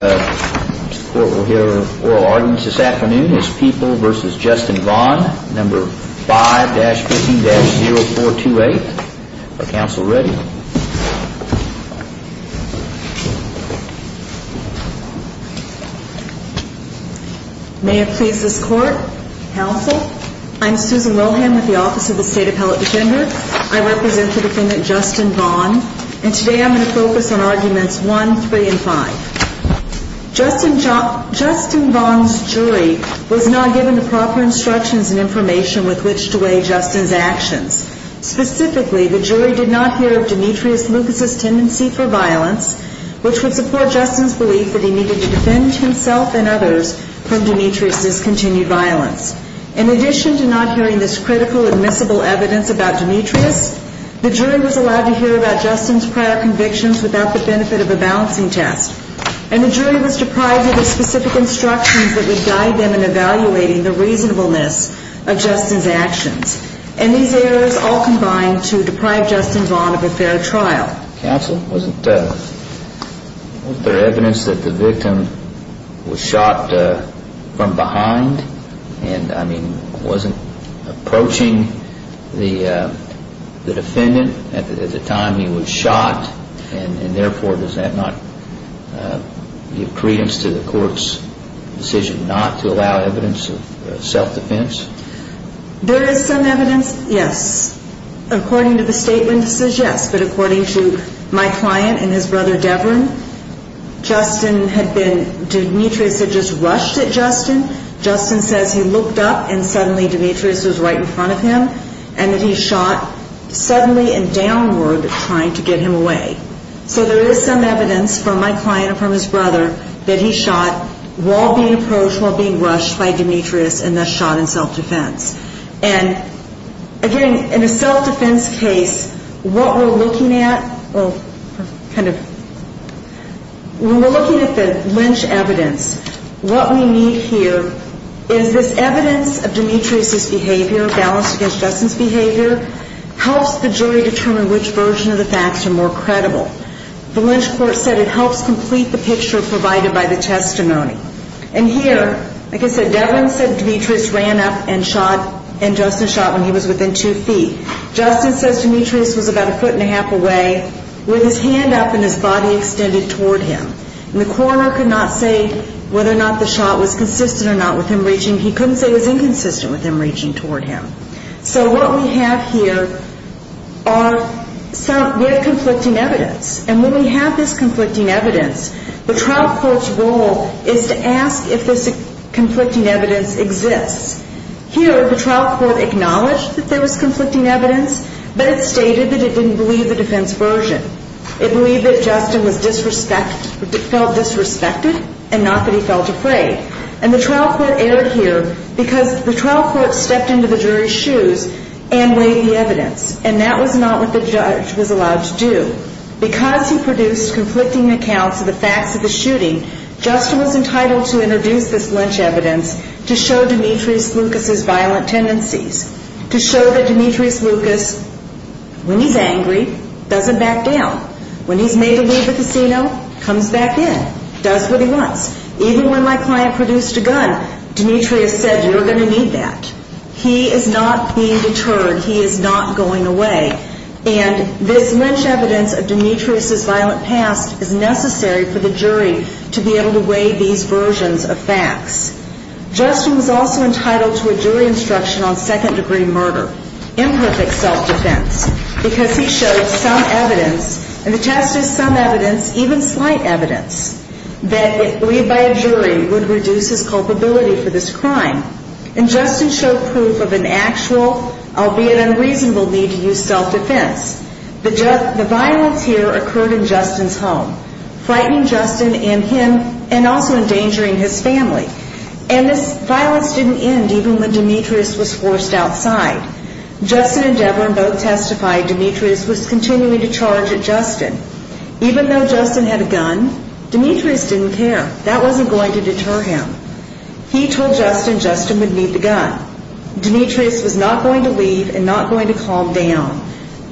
May it please this Court, Counsel, I'm Susan Wilhelm with the Office of the State Appellate Defender. I represent the defendant Justin Vaughn and today I'm going to focus on arguments 1, 3, and 5. Justin Vaughn's jury was not given the proper instructions and information with which to weigh Justin's actions. Specifically, the jury did not hear of Demetrius Lucas's tendency for violence, which would support Justin's belief that he needed to defend himself and others from Demetrius's continued violence. In addition to not hearing this critical admissible evidence about Demetrius, the jury was allowed to hear about Justin's prior convictions without the benefit of a balancing test. And the jury was deprived of the specific instructions that would guide them in evaluating the reasonableness of Justin's actions. And these errors all combined to deprive Justin Vaughn of a fair trial. Counsel, wasn't there evidence that the victim was shot from behind and, I mean, wasn't approaching the defendant at the time when he was shot and, therefore, does that not give credence to the court's decision not to allow evidence of self-defense? There is some evidence, yes. According to the statement it says yes, but according to my client and his brother Deverin, Justin had been, Demetrius had just rushed at Justin. Justin says he looked up and suddenly Demetrius was right in front of him and that he shot suddenly and downward trying to get him away. So there is some evidence from my client and from his brother that he shot while being approached, while being rushed by Demetrius and thus shot in self-defense. And, again, in a self-defense case, what we're looking at, well, kind of, when we're looking at the Lynch evidence, what we need here is this evidence of Demetrius' behavior, balanced against Justin's behavior, helps the jury determine which version of the facts are more credible. The Lynch court said it helps complete the picture provided by the testimony. And here, like I said, Deverin said Demetrius ran up and shot and Justin shot when he was within two feet. Justin says Demetrius was about a foot and a half away with his hand up and his body extended toward him. And the coroner could not say whether or not the shot was consistent or not with him reaching. He couldn't say it was inconsistent with him reaching toward him. So what we have here are some, we have conflicting evidence. And when we have this conflicting evidence, the trial court's role is to ask if this conflicting evidence exists. Here, the trial court acknowledged that there was conflicting evidence, but it stated that it didn't believe the defense version. It believed that Justin was disrespected, felt disrespected, and not that he felt afraid. And the trial court erred here because the trial court stepped into the jury's shoes and weighed the evidence. And that was not what the judge was allowed to do. Because he produced conflicting accounts of the facts of the shooting, Justin was entitled to introduce this Lynch evidence to show Demetrius Lucas' violent tendencies, to show that Demetrius Lucas, when he's angry, doesn't back down. When he's made to leave the casino, comes back in, does what he wants. Even when my client produced a gun, Demetrius said, you're going to need that. He is not being deterred. He is not going away. And this Lynch evidence of Demetrius' violent past is necessary for the jury to be able to weigh these versions of facts. Justin was also entitled to a jury instruction on second-degree murder, imperfect self-defense, because he showed some evidence, and the test is some evidence, even slight evidence, that, if lead by a jury, would reduce his culpability for this crime. And Justin showed proof of an actual, albeit unreasonable, need to use self-defense. The violence here occurred in Justin's home, frightening Justin and him, and also endangering his family. And this violence didn't end even when Demetrius was forced outside. Justin and Devlin both testified Demetrius was continuing to charge at Justin. Even though Justin had a gun, Demetrius didn't care. That wasn't going to deter him. He told Justin Justin would need the gun. Demetrius was not going to leave and not going to calm down.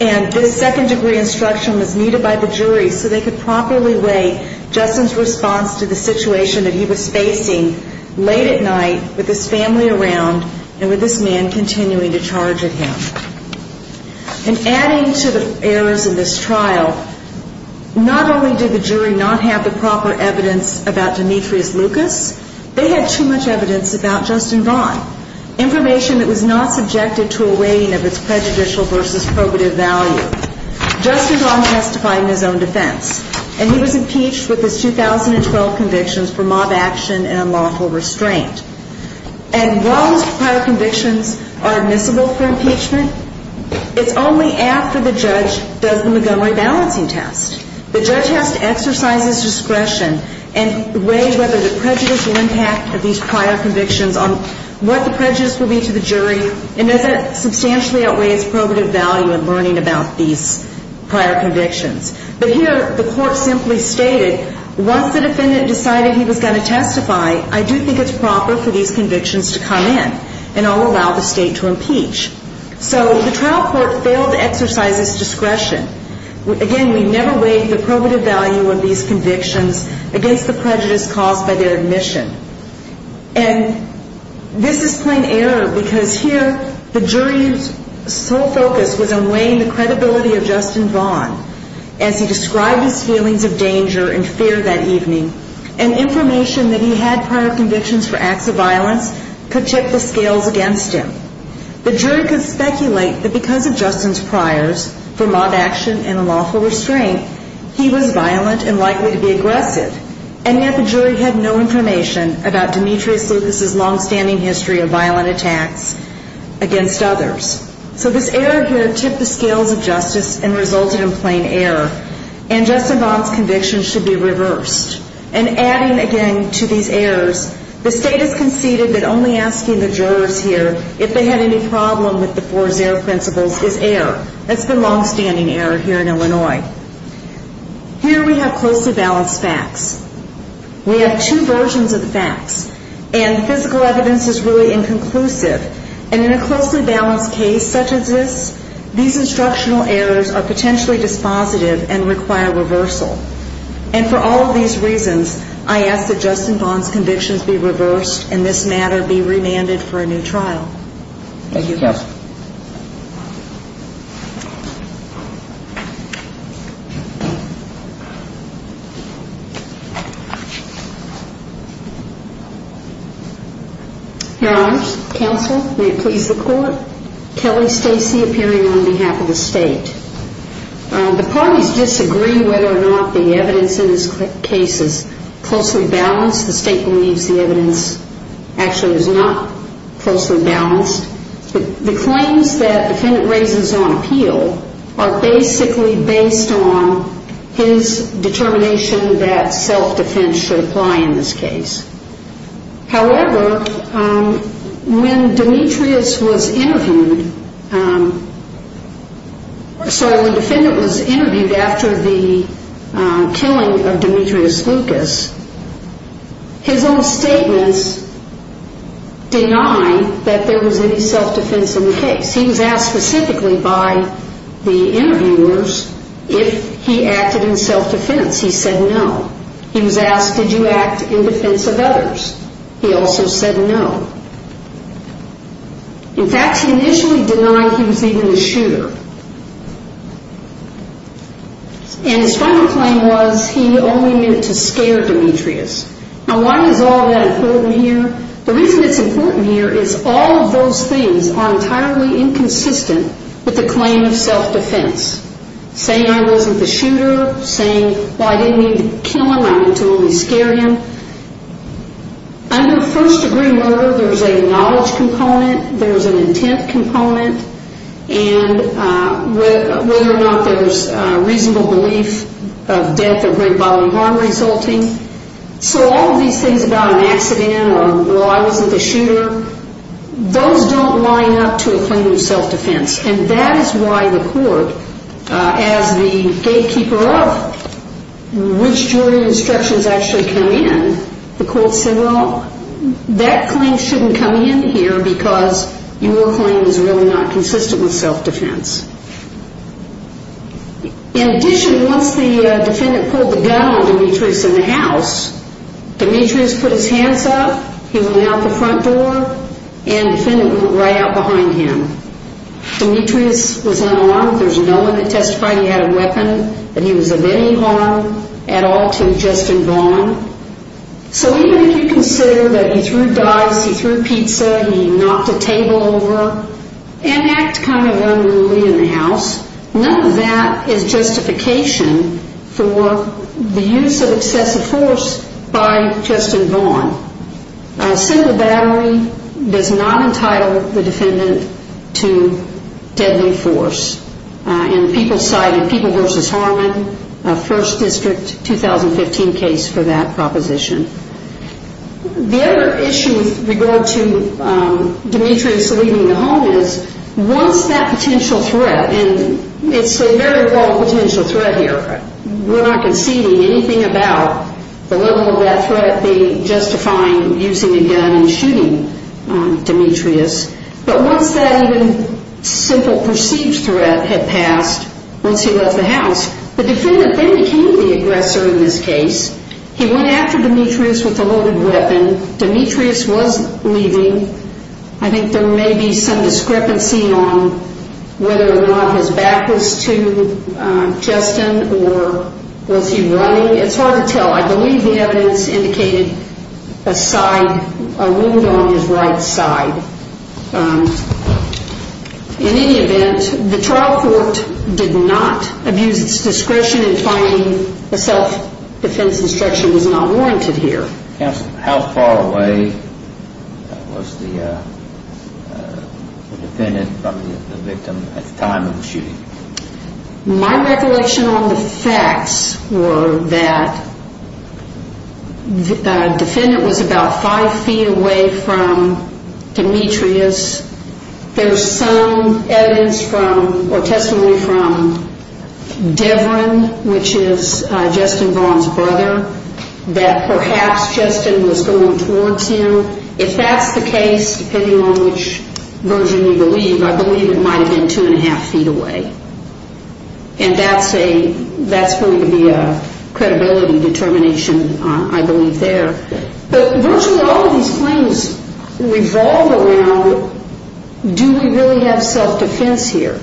And this second-degree instruction was needed by the jury so they could properly weigh Justin's response to the situation that he was facing late at night with his family around and with this man continuing to charge at him. And adding to the errors in this trial, not only did the jury not have the proper evidence about Demetrius Lucas, they had too much evidence about Justin Vaughn, information that was not subjected to a weighing of its prejudicial versus probative value. Justin Vaughn testified in his own defense, and he was impeached with his 2012 convictions for mob action and unlawful restraint. And while his prior convictions are admissible for impeachment, it's only after the judge does the Montgomery balancing test. The judge has to exercise his discretion and weigh whether the prejudicial impact of these prior convictions on what the prejudice will be to the jury, and does it substantially outweigh its probative value in learning about these prior convictions. But here, the court simply stated, once the defendant decided he was going to testify, I do think it's proper for these convictions to come in, and I'll allow the state to impeach. So the trial court failed to exercise its discretion. Again, we never weighed the probative value of these convictions against the prejudice caused by their admission. And this is plain error, because here, the jury's sole focus was on weighing the credibility of Justin Vaughn. As he described his feelings of danger and fear that evening, and information that he had prior convictions for acts of violence could tip the scales against him. The jury could speculate that because of Justin's priors for mob action and unlawful restraint, he was violent and likely to be aggressive. And yet the jury had no information about Demetrius Lucas' longstanding history of violent attacks against others. So this error here tipped the scales of justice and resulted in plain error. And Justin Vaughn's convictions should be reversed. And adding again to these errors, the state has conceded that only asking the jurors here if they had any problem with the four zero principles is error. That's been longstanding error here in Illinois. Here we have closely balanced facts. We have two versions of the facts. And physical evidence is really inconclusive. And in a closely balanced case such as this, these instructional errors are potentially dispositive and require reversal. And for all of these reasons, I ask that Justin Vaughn's convictions be reversed and this matter be remanded for a new trial. Thank you, Counsel. Here I am. Counsel, may it please the Court. Kelly Stacey appearing on behalf of the State. The parties disagree whether or not the evidence in this case is closely balanced. The State believes the evidence actually is not closely balanced. The claims that the defendant raises on appeal are basically based on his determination that self-defense should apply in this case. However, when Demetrius was interviewed, sorry, the defendant was interviewed after the killing of Demetrius Lucas, his own statements deny that there was any self-defense in the case. He was asked specifically by the interviewers if he acted in self-defense. He said no. He was asked, did you act in defense of others? He also said no. In fact, he initially denied he was even a shooter. And his final claim was he only meant to scare Demetrius. Now, why is all that important here? The reason it's important here is all of those things are entirely inconsistent with the claim of self-defense. Saying I wasn't the shooter, saying, well, I didn't mean to kill him, I meant to only scare him. Under first-degree murder, there's a knowledge component, there's an intent component, and whether or not there's reasonable belief of death or great bodily harm resulting. So all of these things about an accident or, well, I wasn't the shooter, those don't line up to a claim of self-defense. And that is why the court, as the gatekeeper of which jury instructions actually come in, the court said, well, that claim shouldn't come in here because your claim is really not consistent with self-defense. In addition, once the defendant pulled the gun on Demetrius in the house, Demetrius put his hands up, he went out the front door, and the defendant went right out behind him. Demetrius was unarmed. There's no one that testified he had a weapon that he was of any harm at all to Justin Vaughn. So even if you consider that he threw dice, he threw pizza, he knocked a table over, an act kind of unruly in the house, none of that is justification for the use of excessive force by Justin Vaughn. A single battery does not entitle the defendant to deadly force. And the people cited People v. Harmon, a 1st District 2015 case for that proposition. The other issue with regard to Demetrius leaving the home is once that potential threat, and it's a very low potential threat here, we're not conceding anything about the level of that threat being justifying using a gun and Demetrius. But once that even simple perceived threat had passed, once he left the house, the defendant then became the aggressor in this case. He went after Demetrius with a loaded weapon. Demetrius was leaving. I think there may be some discrepancy on whether or not his back was to Justin or was he running. It's hard to tell. I believe the evidence indicated a side, a wound on his right side. In any event, the trial court did not abuse its discretion in finding a self-defense instruction was not warranted here. Counsel, how far away was the defendant from the victim at the time of the shooting? My recollection on the facts were that the defendant was about 5 feet away from Demetrius. There's some evidence from, or testimony from Devron, which is Justin Vaughn's brother, that perhaps Justin was going towards him. If that's the case, depending on which version we believe, I believe it might have been 2 1⁄2 feet away. And that's a, that's going to be a credibility determination, I believe, there. But virtually all of these claims revolve around do we really have self-defense here?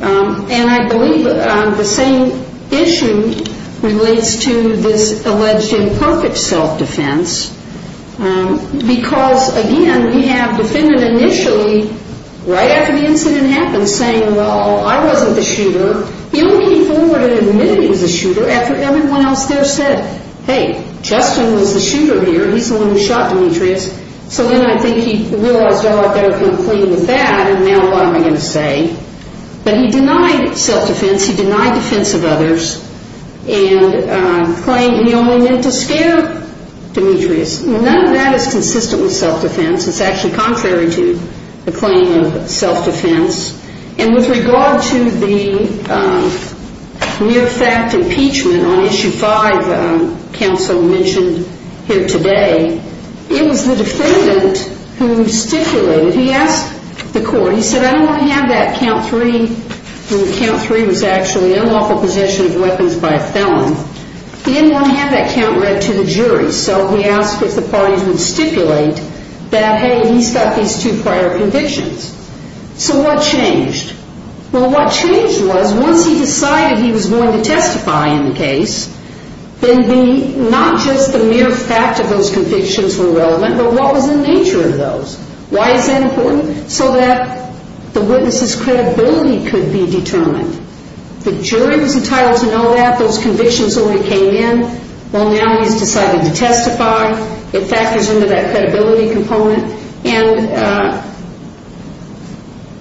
And I believe the same issue relates to this alleged imperfect self-defense because, again, we have defendant initially, right after the incident happened, saying, well, I wasn't the shooter. He only came forward and admitted he was the shooter after everyone else there said, hey, Justin was the shooter here. He's the one who shot Demetrius. So then I think he realized, oh, I'd better come clean with that, and now what am I going to say? But he denied self-defense. He denied defense of others and claimed he only meant to scare Demetrius. None of that is consistent with self-defense. It's actually contrary to the claim of self-defense. And with regard to the near-fact impeachment on Issue 5 counsel mentioned here today, it was the defendant who stipulated, he asked the court, he said, I don't want to have that count 3, and count 3 was actually unlawful possession of weapons by a felon. He didn't want to have that count read to the jury, so he asked if the parties would stipulate that, hey, he's got these two prior convictions. So what changed? Well, what changed was once he decided he was going to testify in the case, then not just the mere fact of those convictions were relevant, but what was the nature of those? Why is that important? So that the witness's credibility could be determined. The jury was entitled to know that. Those convictions only came in. Well, now he's decided to testify. It factors into that credibility component. And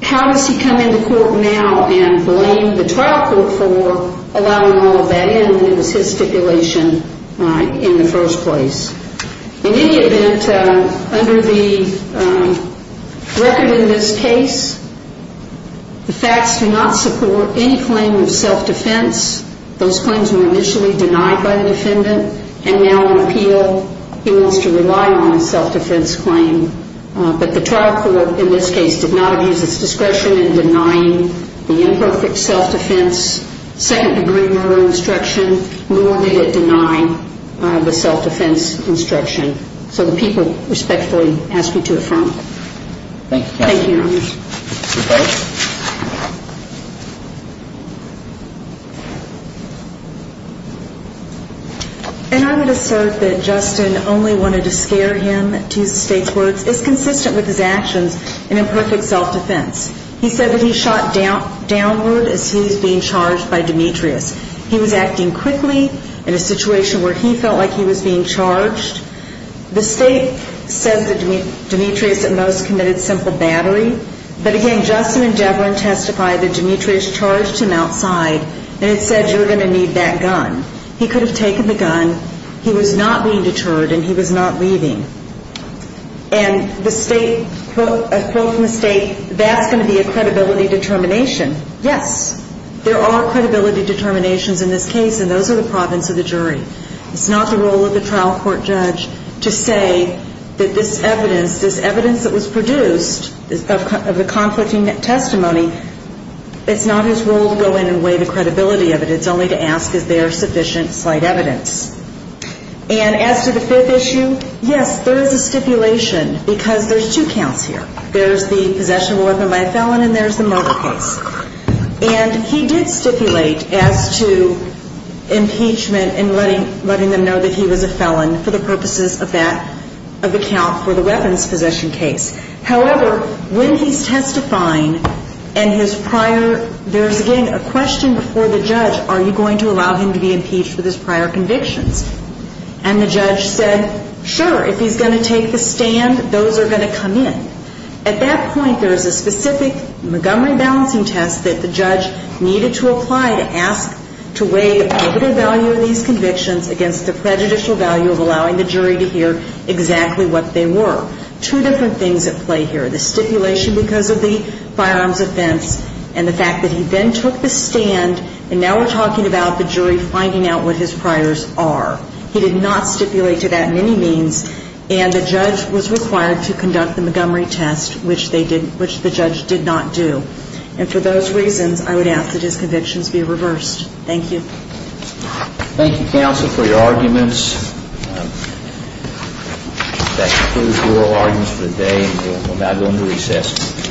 how does he come into court now and blame the trial court for allowing all of that in when it was his stipulation in the first place? In any event, under the record in this case, the facts do not support any claim of self-defense. Those claims were initially denied by the defendant, and now in appeal he wants to rely on a self-defense claim. But the trial court in this case did not abuse its discretion in denying the imperfect self-defense second degree murder instruction, nor did it deny the self-defense instruction. So the people respectfully ask you to affirm. Thank you. And I would assert that Justin only wanted to scare him to state courts. It's consistent with his actions in imperfect self-defense. He said that he shot downward as he was being charged by Demetrius. He was acting quickly in a situation where he felt like he was being the most committed simple battery. But again, Justin and Deverin testified that Demetrius charged him outside, and it said you're going to need that gun. He could have taken the gun. He was not being deterred, and he was not leaving. And the state, a quote from the state, that's going to be a credibility determination. Yes, there are credibility determinations in this case, and those are the province of the jury. It's not the role of the trial court judge to say that this evidence, this evidence that was produced of the conflicting testimony, it's not his role to go in and weigh the credibility of it. It's only to ask is there sufficient slight evidence. And as to the fifth issue, yes, there is a stipulation, because there's two counts here. There's the possession of a weapon by a felon, and there's the murder case. And he did stipulate as to impeachment and letting them know that he was a felon for the purposes of that, of the count for the weapons possession case. However, when he's testifying and his prior, there's again a question before the judge, are you going to allow him to be impeached for his prior convictions? And the judge said, sure, if he's going to take the stand, those are going to come in. At that point, there is a specific Montgomery balancing test that the judge needed to apply to ask to weigh the positive value of these convictions against the prejudicial value of allowing the jury to hear exactly what they were. Two different things at play here, the stipulation because of the firearms offense and the fact that he then took the stand, and now we're talking about the jury finding out what his priors are. He did not stipulate to that in any means, and the judge was required to conduct the Montgomery test, which they did, which the judge did not do. And for those reasons, I would ask that his convictions be reversed. Thank you. Thank you, counsel, for your arguments. That concludes oral arguments for the day, and we'll now go into recess.